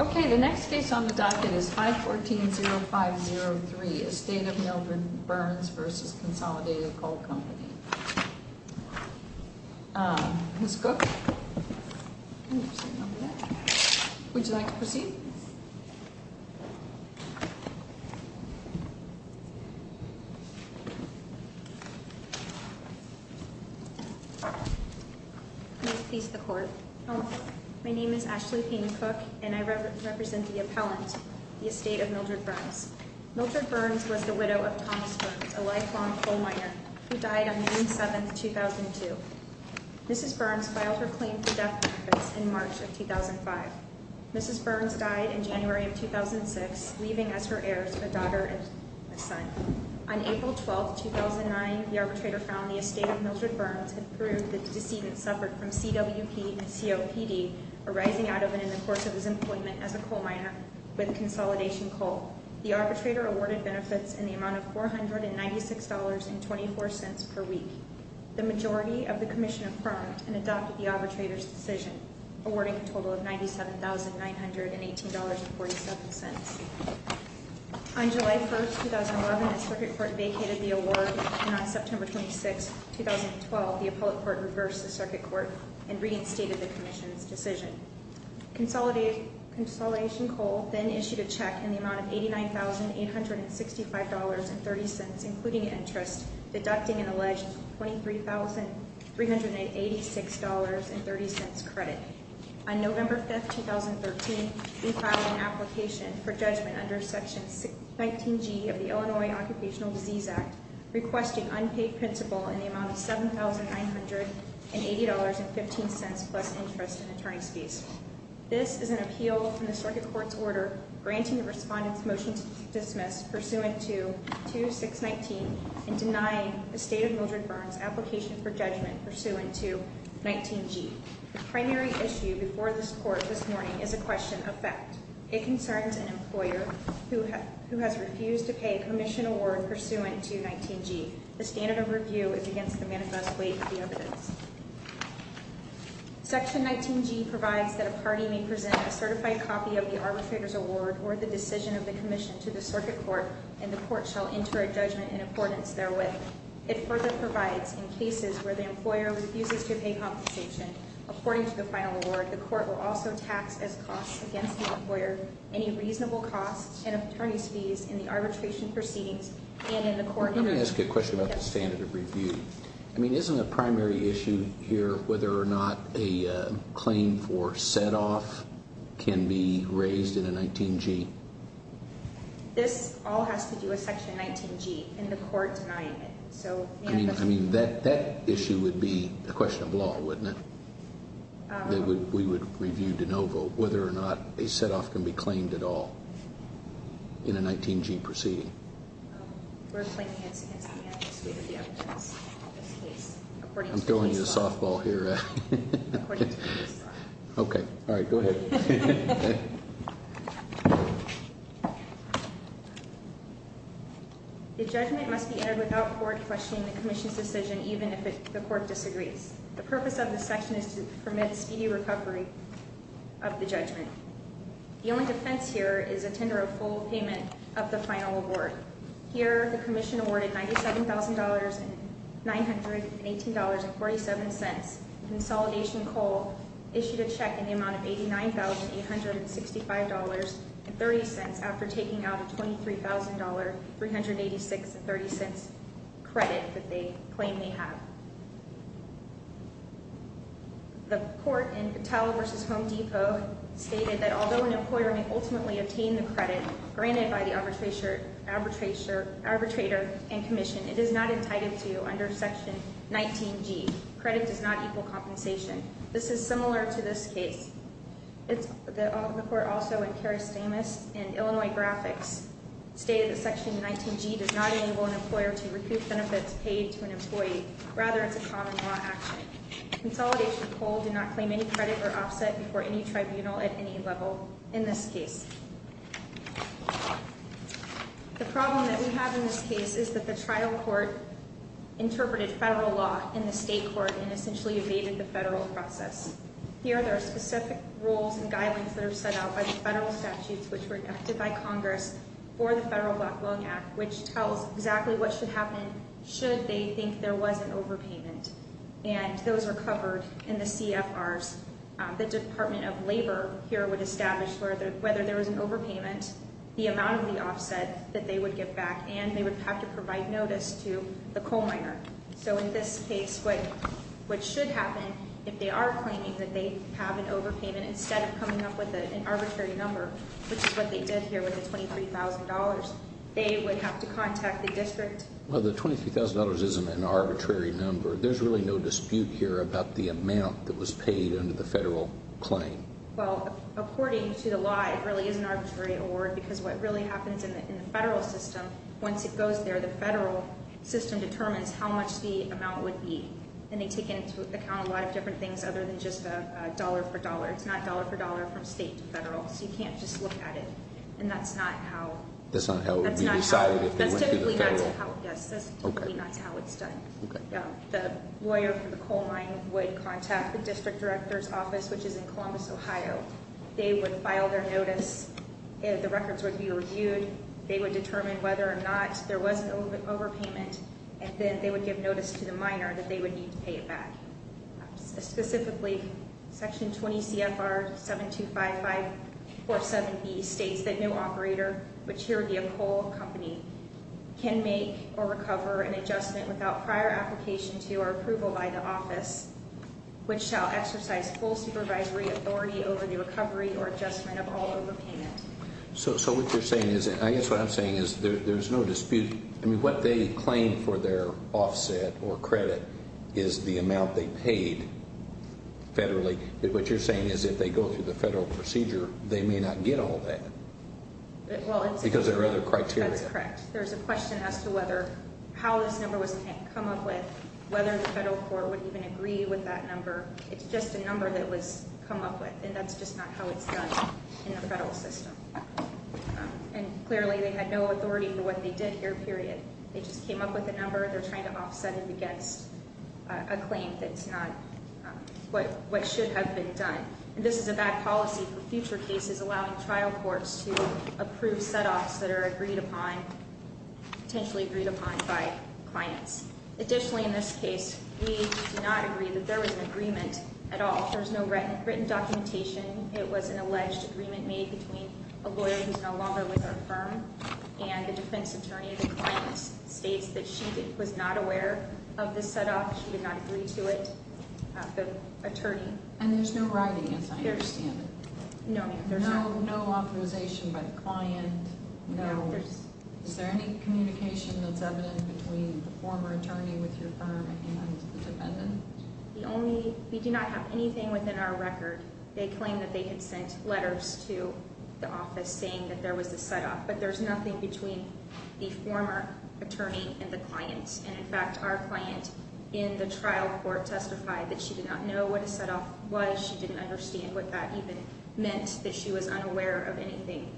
Okay, the next case on the docket is 514-0503, Estate of Mildred Burns v. Consolidated Coal Company. Ms. Cook, would you like to proceed? Please proceed. May it please the Court. My name is Ashley Pena Cook, and I represent the appellant, the Estate of Mildred Burns. Mildred Burns was the widow of Thomas Burns, a lifelong coal miner, who died on May 7, 2002. Mrs. Burns filed her claim for death benefits in March of 2005. Mrs. Burns died in January of 2006, leaving as her heirs a daughter and a son. On April 12, 2009, the arbitrator found the Estate of Mildred Burns and proved that the decedent suffered from CWP and COPD arising out of and in the course of his employment as a coal miner with Consolidation Coal. The arbitrator awarded benefits in the amount of $496.24 per week. The majority of the Commission affirmed and adopted the arbitrator's decision, awarding a total of $97,918.47. On July 1, 2011, the Circuit Court vacated the award, and on September 26, 2012, the Appellate Court reversed the Circuit Court and reinstated the Commission's decision. Consolidation Coal then issued a check in the amount of $89,865.30, including interest, deducting an alleged $23,386.30 credit. On November 5, 2013, we filed an application for judgment under Section 19G of the Illinois Occupational Disease Act, requesting unpaid principal in the amount of $7,980.15 plus interest and attorney's fees. This is an appeal from the Circuit Court's order granting the Respondent's motion to dismiss pursuant to 2619 and denying the Estate of Mildred Burns' application for judgment pursuant to 19G. The primary issue before this Court this morning is a question of fact. It concerns an employer who has refused to pay a Commission award pursuant to 19G. The standard of review is against the manifest weight of the evidence. Section 19G provides that a party may present a certified copy of the arbitrator's award or the decision of the Commission to the Circuit Court, and the Court shall enter a judgment in accordance therewith. It further provides in cases where the employer refuses to pay compensation according to the final award, the Court will also tax as costs against the employer any reasonable costs and attorney's fees in the arbitration proceedings and in the court hearing. Let me ask you a question about the standard of review. I mean, isn't a primary issue here whether or not a claim for set-off can be raised in a 19G? This all has to do with Section 19G and the Court denying it. I mean, that issue would be a question of law, wouldn't it? We would review de novo whether or not a set-off can be claimed at all in a 19G proceeding. We're claiming it's against the manifest weight of the evidence in this case. I'm throwing you a softball here. According to the case law. Okay, all right, go ahead. The judgment must be entered without court questioning the Commission's decision, even if the Court disagrees. The purpose of this section is to permit speedy recovery of the judgment. The only defense here is a tender of full payment of the final award. Here, the Commission awarded $97,918.47. Consolidation Coal issued a check in the amount of $89,865.30 after taking out a $23,386.30 credit that they claim they have. The Court in Vitale v. Home Depot stated that although an employer may ultimately obtain the credit granted by the arbitrator and Commission, it is not entitled to under Section 19G. Credit does not equal compensation. This is similar to this case. The Court also in Karastamis and Illinois Graphics stated that Section 19G does not enable an employer to recoup benefits paid to an employee. Rather, it's a common law action. Consolidation Coal did not claim any credit or offset before any tribunal at any level in this case. The problem that we have in this case is that the trial court interpreted federal law in the state court and essentially evaded the federal process. Here, there are specific rules and guidelines that are set out by the federal statutes which were enacted by Congress for the Federal Black Loan Act, which tells exactly what should happen should they think there was an overpayment. And those are covered in the CFRs. The Department of Labor here would establish whether there was an overpayment, the amount of the offset that they would get back, and they would have to provide notice to the coal miner. So in this case, what should happen if they are claiming that they have an overpayment instead of coming up with an arbitrary number, which is what they did here with the $23,000, they would have to contact the district. Well, the $23,000 isn't an arbitrary number. There's really no dispute here about the amount that was paid under the federal claim. Well, according to the law, it really is an arbitrary award because what really happens in the federal system, once it goes there, the federal system determines how much the amount would be, and they take into account a lot of different things other than just dollar for dollar. It's not dollar for dollar from state to federal, so you can't just look at it, and that's not how. That's not how it would be decided if they went to the federal? Yes, that's typically not how it's done. The lawyer from the coal mine would contact the district director's office, which is in Columbus, Ohio. They would file their notice. The records would be reviewed. They would determine whether or not there was an overpayment, and then they would give notice to the miner that they would need to pay it back. Specifically, Section 20 CFR 725547B states that no operator, which here would be a coal company, can make or recover an adjustment without prior application to or approval by the office, which shall exercise full supervisory authority over the recovery or adjustment of all overpayment. So what you're saying is, I guess what I'm saying is there's no dispute. I mean, what they claim for their offset or credit is the amount they paid federally. What you're saying is if they go through the federal procedure, they may not get all that because there are other criteria. That's correct. There's a question as to how this number was come up with, whether the federal court would even agree with that number. It's just a number that was come up with, and that's just not how it's done in the federal system. And clearly, they had no authority for what they did here, period. They just came up with a number. They're trying to offset it against a claim that's not what should have been done. This is a bad policy for future cases, allowing trial courts to approve setoffs that are agreed upon, potentially agreed upon by clients. Additionally, in this case, we do not agree that there was an agreement at all. There's no written documentation. It was an alleged agreement made between a lawyer who's no longer with our firm and a defense attorney. The client states that she was not aware of the setoff. She did not agree to it. The attorney- And there's no writing, as I understand it. No, ma'am. There's no authorization by the client. No. Is there any communication that's evident between the former attorney with your firm and the defendant? We do not have anything within our record. They claim that they had sent letters to the office saying that there was a setoff, but there's nothing between the former attorney and the client. And, in fact, our client in the trial court testified that she did not know what a setoff was. She didn't understand what that even meant, that she was unaware of anything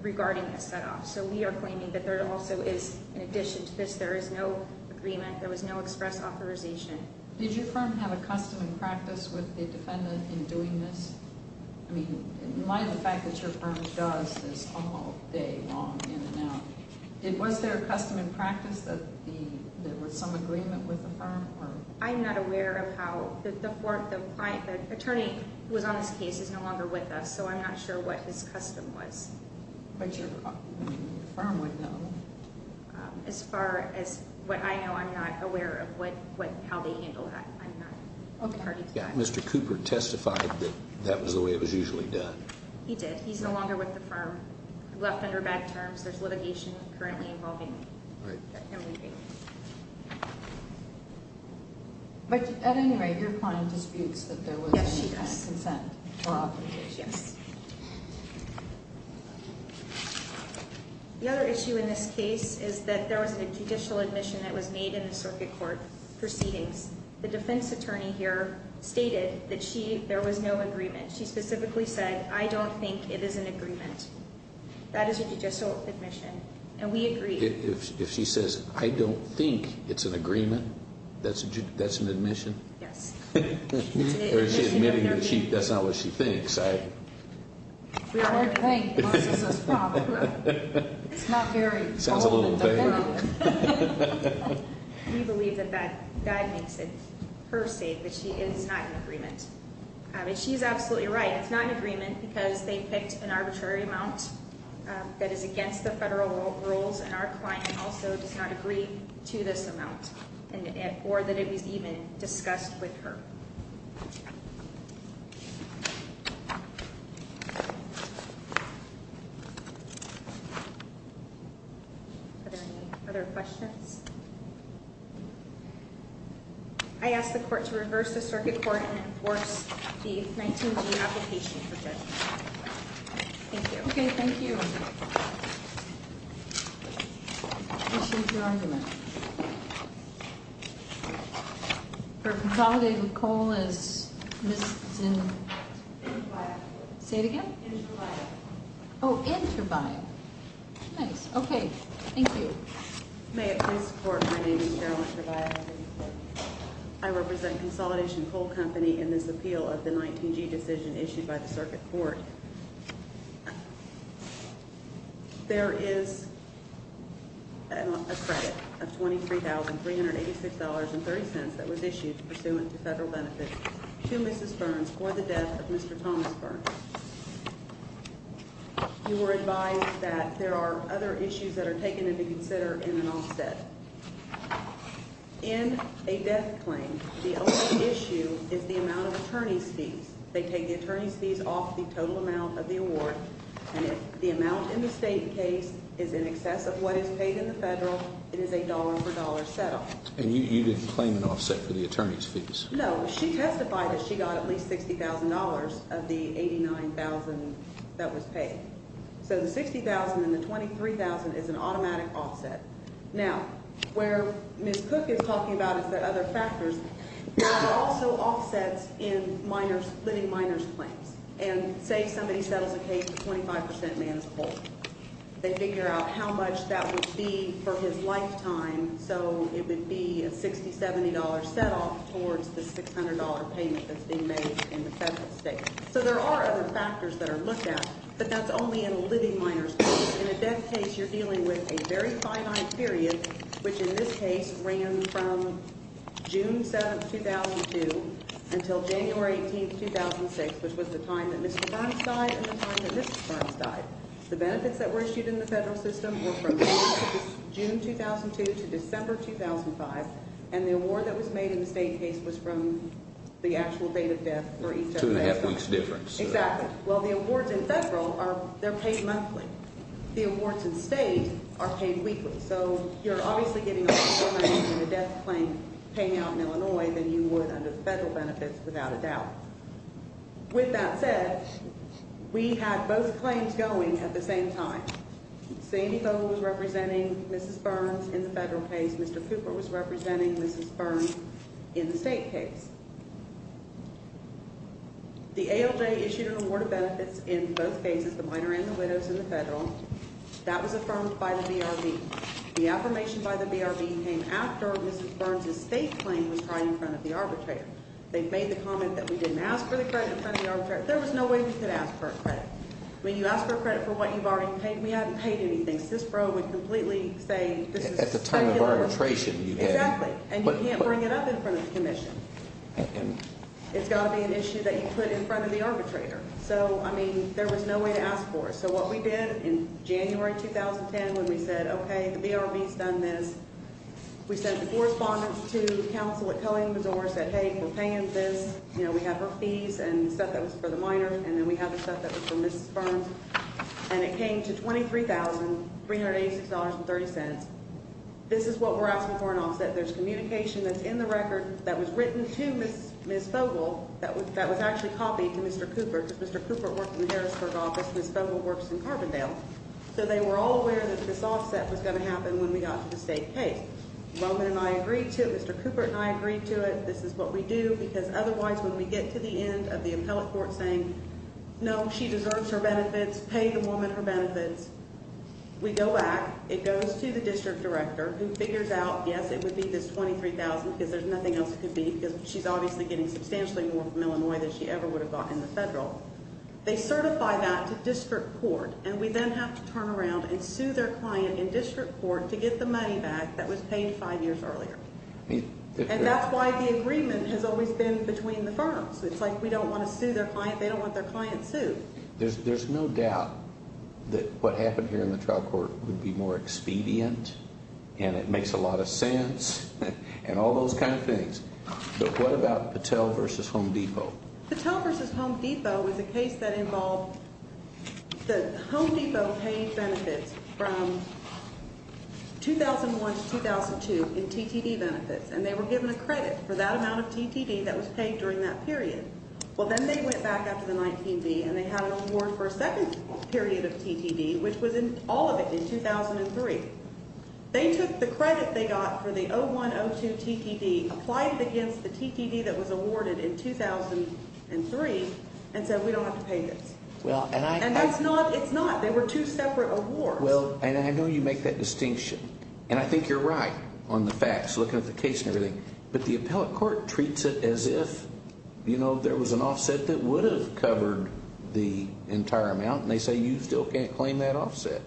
regarding a setoff. So we are claiming that there also is, in addition to this, there is no agreement. There was no express authorization. Did your firm have a custom and practice with the defendant in doing this? I mean, in light of the fact that your firm does this all day long, in and out, was there a custom and practice that there was some agreement with the firm? I'm not aware of how. The attorney who was on this case is no longer with us, so I'm not sure what his custom was. But your firm would know. As far as what I know, I'm not aware of how they handle that. I'm not party to that. Mr. Cooper testified that that was the way it was usually done. He did. He's no longer with the firm. He left under bad terms. There's litigation currently involving him leaving. But, at any rate, your client disputes that there was consent for authorization. Yes. The other issue in this case is that there was a judicial admission that was made in the circuit court proceedings. The defense attorney here stated that there was no agreement. She specifically said, I don't think it is an agreement. That is a judicial admission, and we agree. If she says, I don't think it's an agreement, that's an admission? Yes. Or is she admitting that that's not what she thinks? We don't think Marissa's a fraud. It's not very probable. We believe that that makes it her state that it is not an agreement. She's absolutely right. It's not an agreement because they picked an arbitrary amount that is against the federal rules, and our client also does not agree to this amount, or that it was even discussed with her. Thank you. Are there any other questions? I ask the court to reverse the circuit court and enforce the 19G application for judgment. Thank you. Okay, thank you. We'll change the argument. For consolidating the coal is Ms. Zinn. Say it again? Oh, Interbiot. Nice. Okay, thank you. May it please the court, my name is Carolyn Interbiot. I represent Consolidation Coal Company in this appeal of the 19G decision issued by the circuit court. There is a credit of $23,386.30 that was issued pursuant to federal benefits to Mrs. Burns for the death of Mr. Thomas Burns. You were advised that there are other issues that are taken into consider in an offset. In a death claim, the only issue is the amount of attorney's fees. They take the attorney's fees off the total amount of the award. And if the amount in the state case is in excess of what is paid in the federal, it is a dollar-for-dollar set-off. And you didn't claim an offset for the attorney's fees? No. She testified that she got at least $60,000 of the $89,000 that was paid. So the $60,000 and the $23,000 is an automatic offset. Now, where Ms. Cook is talking about is there are other factors. That also offsets in living minors' claims. And say somebody settles a case, 25 percent man is poor. They figure out how much that would be for his lifetime, so it would be a $60, $70 set-off towards the $600 payment that's being made in the federal state. So there are other factors that are looked at, but that's only in a living minors' case. In a death case, you're dealing with a very finite period, which in this case ran from June 7, 2002, until January 18, 2006, which was the time that Mr. Burns died and the time that Ms. Burns died. The benefits that were issued in the federal system were from June 2002 to December 2005. And the award that was made in the state case was from the actual date of death for each of the members. Two-and-a-half weeks difference. Exactly. Well, the awards in federal, they're paid monthly. The awards in state are paid weekly. So you're obviously getting a lot more money for the death claim paying out in Illinois than you would under the federal benefits, without a doubt. With that said, we had both claims going at the same time. Sandy Fogle was representing Mrs. Burns in the federal case. Mr. Cooper was representing Mrs. Burns in the state case. The ALJ issued an award of benefits in both cases, the minor and the widows, in the federal. That was affirmed by the BRB. The affirmation by the BRB came after Mrs. Burns' state claim was tried in front of the arbitrator. They made the comment that we didn't ask for the credit in front of the arbitrator. There was no way we could ask for a credit. When you ask for a credit for what you've already paid, we haven't paid anything. CISPRO would completely say this is a speculative claim. At the time of arbitration, you had. Exactly. And you can't bring it up in front of the commission. It's got to be an issue that you put in front of the arbitrator. So, I mean, there was no way to ask for it. So what we did in January 2010 when we said, okay, the BRB's done this, we sent the correspondence to counsel at Cullin, Missouri, said, hey, we're paying this. We have our fees and stuff that was for the minor, and then we have the stuff that was for Mrs. Burns. And it came to $23,386.30. This is what we're asking for in offset. There's communication that's in the record that was written to Ms. Fogle that was actually copied to Mr. Cooper because Mr. Cooper worked in the Harrisburg office. Ms. Fogle works in Carbondale. So they were all aware that this offset was going to happen when we got to the state case. Roman and I agreed to it. Mr. Cooper and I agreed to it. This is what we do because otherwise when we get to the end of the appellate court saying, no, she deserves her benefits, pay the woman her benefits, we go back. It goes to the district director who figures out, yes, it would be this $23,000 because there's nothing else it could be because she's obviously getting substantially more from Illinois than she ever would have gotten in the federal. They certify that to district court, and we then have to turn around and sue their client in district court to get the money back that was paid five years earlier. And that's why the agreement has always been between the firms. It's like we don't want to sue their client. They don't want their client sued. There's no doubt that what happened here in the trial court would be more expedient, and it makes a lot of sense, and all those kind of things. But what about Patel v. Home Depot? Patel v. Home Depot was a case that involved the Home Depot paid benefits from 2001 to 2002 in TTD benefits, and they were given a credit for that amount of TTD that was paid during that period. Well, then they went back after the 19B, and they had an award for a second period of TTD, which was in all of it in 2003. They took the credit they got for the 01-02 TTD, applied it against the TTD that was awarded in 2003, and said we don't have to pay this. And that's not – it's not. They were two separate awards. Well, and I know you make that distinction, and I think you're right on the facts looking at the case and everything. But the appellate court treats it as if, you know, there was an offset that would have covered the entire amount, and they say you still can't claim that offset.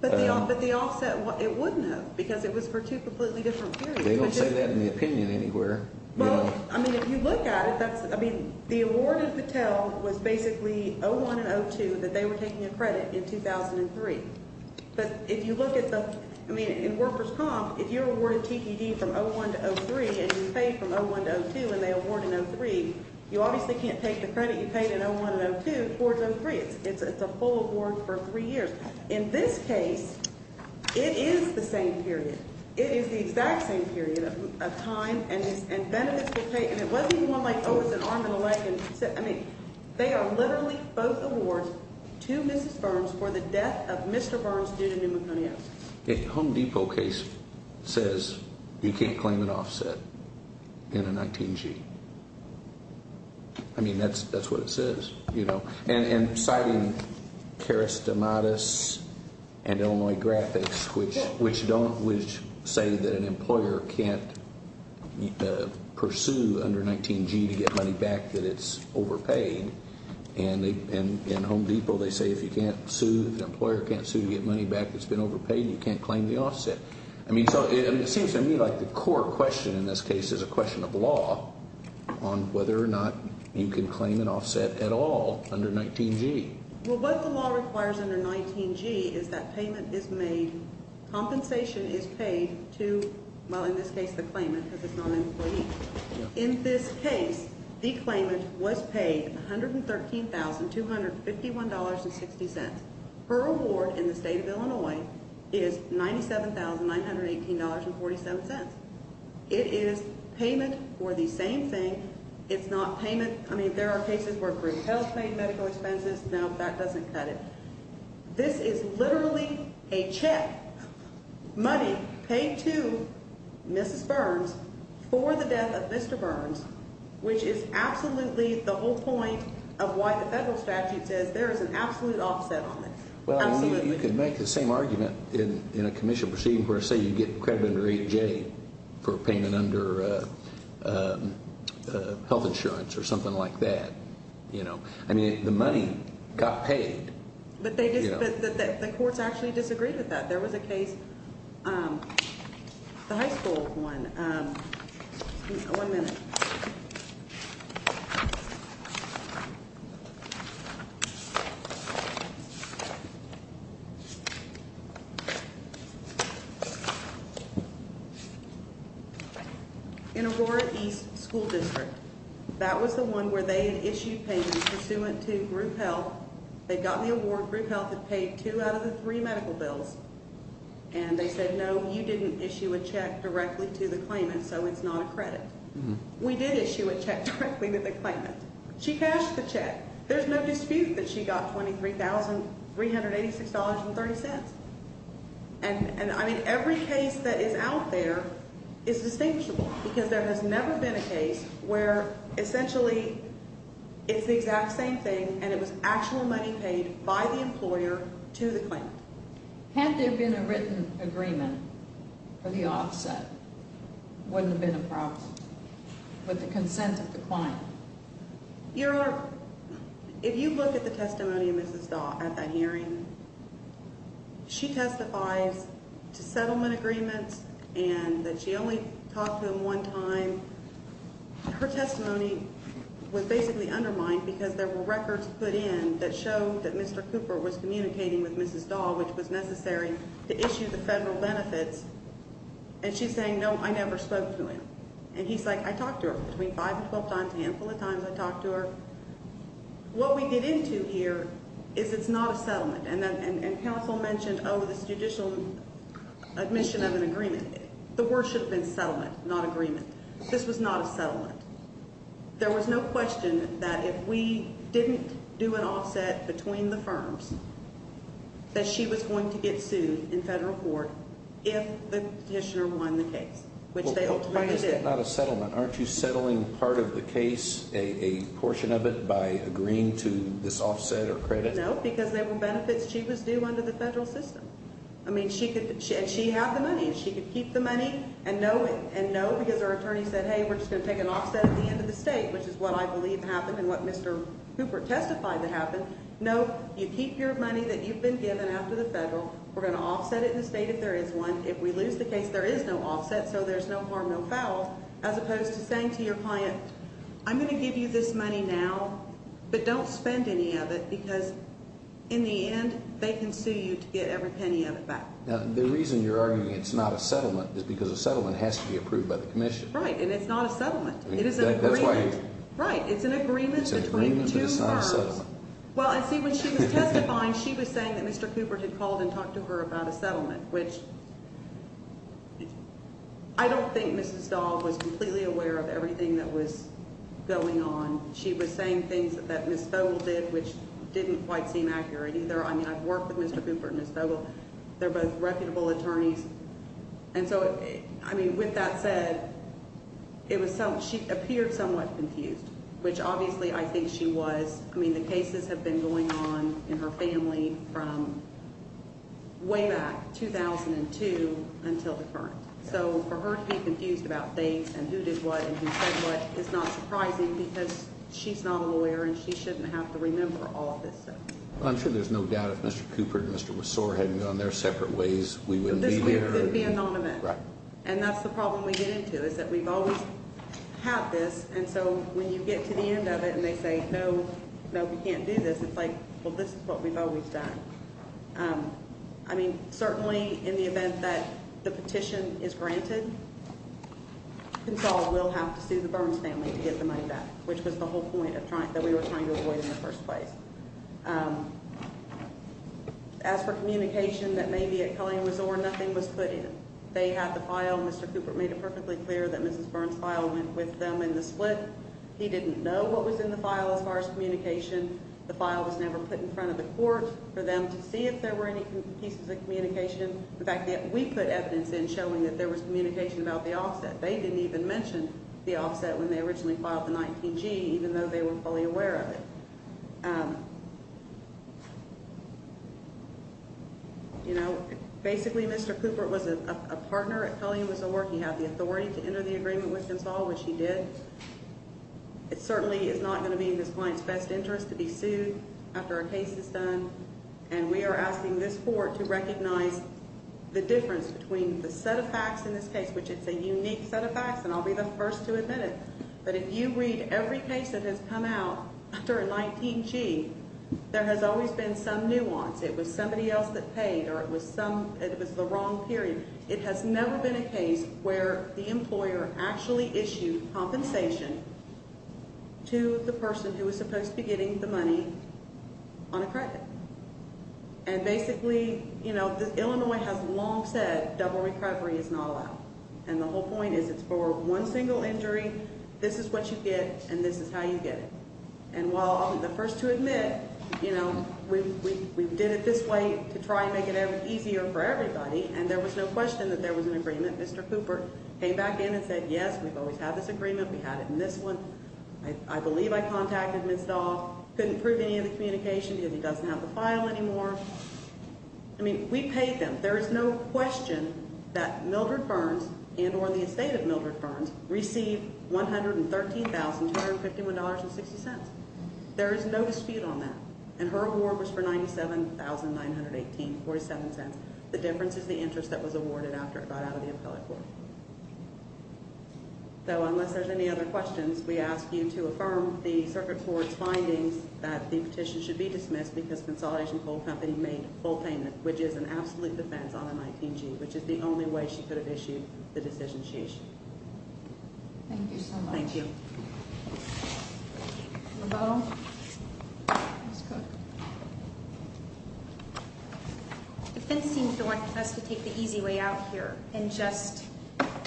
But the offset, it wouldn't have because it was for two completely different periods. They don't say that in the opinion anywhere. Well, I mean, if you look at it, that's – I mean, the award in Patel was basically 01 and 02 that they were taking a credit in 2003. But if you look at the – I mean, in Worker's Comp, if you're awarded TTD from 01 to 03 and you pay from 01 to 02 and they award in 03, you obviously can't take the credit you paid in 01 and 02 towards 03. It's a full award for three years. In this case, it is the same period. It is the exact same period of time and benefits were paid. And it wasn't even one like, oh, it's an arm and a leg. I mean, they are literally both awards to Mrs. Burns for the death of Mr. Burns due to pneumoconiosis. A Home Depot case says you can't claim an offset in a 19-G. I mean, that's what it says. And citing Karastamatis and Illinois Graphics, which don't – which say that an employer can't pursue under 19-G to get money back that it's overpaid. And in Home Depot, they say if you can't sue – if an employer can't sue to get money back that's been overpaid, you can't claim the offset. I mean, so it seems to me like the core question in this case is a question of law on whether or not you can claim an offset at all under 19-G. Well, what the law requires under 19-G is that payment is made – compensation is paid to, well, in this case, the claimant because it's not an employee. In this case, the claimant was paid $113,251.60. Her award in the state of Illinois is $97,918.47. It is payment for the same thing. It's not payment – I mean, there are cases where group health paid medical expenses. No, that doesn't cut it. This is literally a check, money paid to Mrs. Burns for the death of Mr. Burns, which is absolutely the whole point of why the federal statute says there is an absolute offset on it. Absolutely. Well, you could make the same argument in a commission proceeding where, say, you get credit under 8-J for payment under health insurance or something like that. I mean the money got paid. But they – the courts actually disagreed with that. There was a case – the high school one. One minute. Thank you. In Aurora East School District, that was the one where they had issued payments pursuant to group health. They got the award. Group health had paid two out of the three medical bills. And they said, no, you didn't issue a check directly to the claimant, so it's not a credit. We did issue a check directly to the claimant. She cashed the check. There's no dispute that she got $23,386.30. And, I mean, every case that is out there is distinguishable because there has never been a case where essentially it's the exact same thing and it was actual money paid by the employer to the claimant. Had there been a written agreement for the offset, it wouldn't have been a problem with the consent of the client. Your Honor, if you look at the testimony of Mrs. Dahl at that hearing, she testifies to settlement agreements and that she only talked to him one time. Her testimony was basically undermined because there were records put in that showed that Mr. Cooper was communicating with Mrs. Dahl, which was necessary to issue the federal benefits. And she's saying, no, I never spoke to him. And he's like, I talked to her between five and 12 times, a handful of times I talked to her. What we get into here is it's not a settlement. And counsel mentioned, oh, this judicial admission of an agreement. The word should have been settlement, not agreement. This was not a settlement. There was no question that if we didn't do an offset between the firms that she was going to get sued in federal court if the petitioner won the case, which they ultimately did. Well, why is that not a settlement? Aren't you settling part of the case, a portion of it, by agreeing to this offset or credit? No, because there were benefits she was due under the federal system. And she had the money. She could keep the money. And no, because her attorney said, hey, we're just going to take an offset at the end of the state, which is what I believe happened and what Mr. Cooper testified to happen. No, you keep your money that you've been given after the federal. We're going to offset it in the state if there is one. If we lose the case, there is no offset, so there's no harm, no foul, as opposed to saying to your client, I'm going to give you this money now, but don't spend any of it. Because in the end, they can sue you to get every penny of it back. Now, the reason you're arguing it's not a settlement is because a settlement has to be approved by the commission. Right. And it's not a settlement. It is an agreement. That's right. It's an agreement between two firms. It's an agreement, but it's not a settlement. Well, and see, when she was testifying, she was saying that Mr. Cooper had called and talked to her about a settlement, which I don't think Mrs. Dahl was completely aware of everything that was going on. She was saying things that Ms. Fogle did, which didn't quite seem accurate either. I mean, I've worked with Mr. Cooper and Ms. Fogle. They're both reputable attorneys. And so, I mean, with that said, it was – she appeared somewhat confused, which obviously I think she was. I mean, the cases have been going on in her family from way back 2002 until the current. So, for her to be confused about things and who did what and who said what is not surprising because she's not a lawyer and she shouldn't have to remember all of this stuff. Well, I'm sure there's no doubt if Mr. Cooper and Mr. Wasore hadn't gone their separate ways, we wouldn't be here. This would be anonymous. Right. And that's the problem we get into is that we've always had this. And so, when you get to the end of it and they say, no, no, we can't do this, it's like, well, this is what we've always done. I mean, certainly in the event that the petition is granted, Console will have to sue the Burns family to get the money back, which was the whole point that we were trying to avoid in the first place. As for communication that may be at Culligan-Wasore, nothing was put in. They had the file. Mr. Cooper made it perfectly clear that Mrs. Burns' file went with them in the split. He didn't know what was in the file as far as communication. The file was never put in front of the court for them to see if there were any pieces of communication. In fact, we put evidence in showing that there was communication about the offset. They didn't even mention the offset when they originally filed the 19-G, even though they were fully aware of it. You know, basically, Mr. Cooper was a partner at Culligan-Wasore. He had the authority to enter the agreement with Console, which he did. It certainly is not going to be in this client's best interest to be sued after a case is done. And we are asking this court to recognize the difference between the set of facts in this case, which it's a unique set of facts, and I'll be the first to admit it. But if you read every case that has come out after a 19-G, there has always been some nuance. It was somebody else that paid or it was the wrong period. It has never been a case where the employer actually issued compensation to the person who was supposed to be getting the money on a credit. And basically, you know, Illinois has long said double recovery is not allowed. And the whole point is it's for one single injury. This is what you get, and this is how you get it. And while I'm the first to admit, you know, we did it this way to try and make it easier for everybody, and there was no question that there was an agreement. Mr. Cooper came back in and said, yes, we've always had this agreement. We had it in this one. I believe I contacted Ms. Dahl. Couldn't prove any of the communication because he doesn't have the file anymore. I mean, we paid them. And there is no question that Mildred Burns and or the estate of Mildred Burns received $113,251.60. There is no dispute on that. And her award was for $97,918.47. The difference is the interest that was awarded after it got out of the appellate court. So unless there's any other questions, we ask you to affirm the circuit court's findings that the petition should be dismissed because Consolidation Coal Company made a full payment, which is an absolute defense on the 19G, which is the only way she could have issued the decision she issued. Thank you so much. Thank you. Ms. Cooper. Defense seems to want us to take the easy way out here and just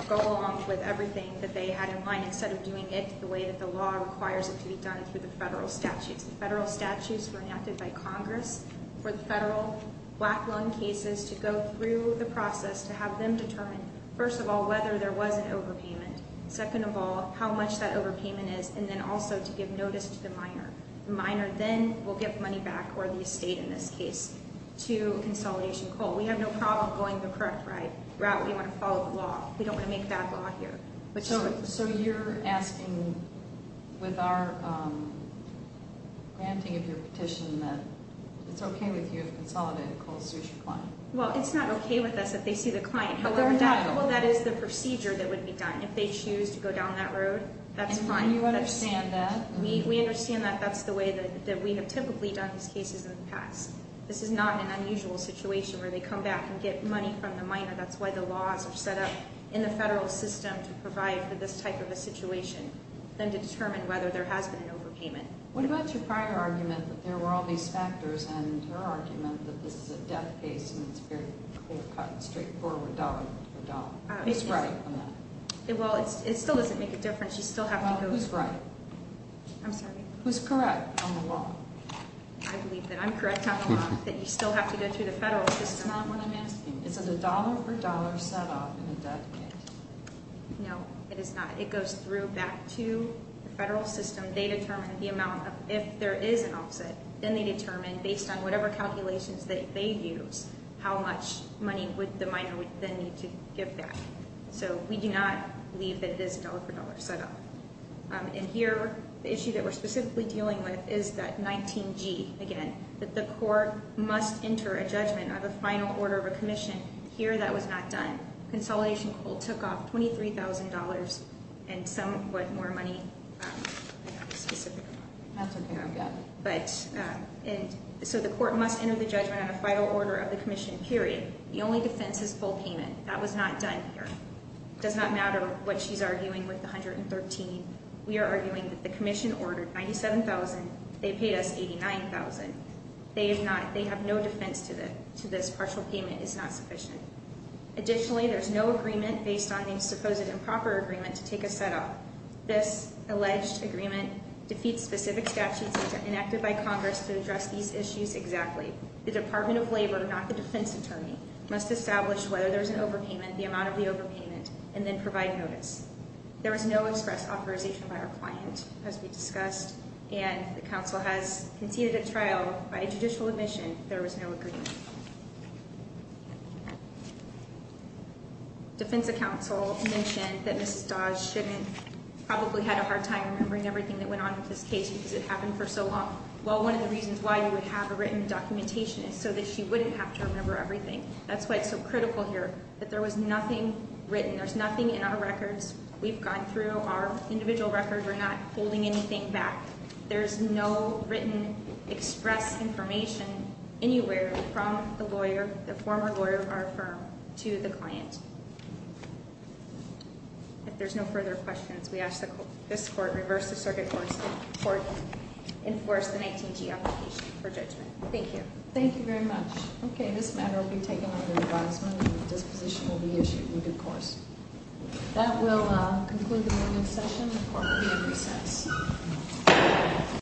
go along with everything that they had in mind instead of doing it the way that the law requires it to be done through the federal statutes. The federal statutes were enacted by Congress for the federal black loan cases to go through the process to have them determine, first of all, whether there was an overpayment, second of all, how much that overpayment is, and then also to give notice to the minor. The minor then will get money back, or the estate in this case, to Consolidation Coal. We have no problem going the correct route. We want to follow the law. We don't want to make bad law here. So you're asking, with our granting of your petition, that it's okay with you if Consolidated Coal sues your client? Well, it's not okay with us if they sue the client. However, that is the procedure that would be done. If they choose to go down that road, that's fine. And you understand that? We understand that that's the way that we have typically done these cases in the past. This is not an unusual situation where they come back and get money from the minor. That's why the laws are set up in the federal system to provide for this type of a situation, and to determine whether there has been an overpayment. What about your prior argument that there were all these factors, and your argument that this is a death case and it's very straightforward, dollar for dollar? Who's right on that? Well, it still doesn't make a difference. You still have to go— Well, who's right? I'm sorry? Who's correct on the law? I believe that I'm correct on the law, that you still have to go through the federal system. That's not what I'm asking. It's a dollar for dollar set up in a death case. No, it is not. It goes through back to the federal system. They determine the amount of—if there is an offset, then they determine, based on whatever calculations that they use, how much money would the minor then need to give back. So we do not believe that it is a dollar for dollar set up. And here, the issue that we're specifically dealing with is that 19G, again, that the court must enter a judgment of a final order of a commission. Here, that was not done. Consolidation Coal took off $23,000, and some—what, more money? I don't know the specifics. That's okay. I'm good. But—and so the court must enter the judgment on a final order of the commission, period. The only defense is full payment. That was not done here. It does not matter what she's arguing with the $113,000. We are arguing that the commission ordered $97,000. They paid us $89,000. They have no defense to this partial payment. It's not sufficient. Additionally, there's no agreement based on any supposed improper agreement to take a set up. This alleged agreement defeats specific statutes that are enacted by Congress to address these issues exactly. The Department of Labor, not the defense attorney, must establish whether there's an overpayment, the amount of the overpayment, and then provide notice. There was no express authorization by our client, as we discussed. And the counsel has conceded at trial by judicial admission there was no agreement. Defense counsel mentioned that Mrs. Dodge probably had a hard time remembering everything that went on with this case because it happened for so long. Well, one of the reasons why you would have a written documentation is so that she wouldn't have to remember everything. That's why it's so critical here that there was nothing written. There's nothing in our records. We've gone through our individual records. We're not holding anything back. There's no written express information anywhere from the lawyer, the former lawyer of our firm, to the client. If there's no further questions, we ask that this court reverse the circuit course and court enforce the 19G application for judgment. Thank you. Thank you very much. Okay, this matter will be taken under advisement and a disposition will be issued in due course. That will conclude the meeting session. The court will be in recess.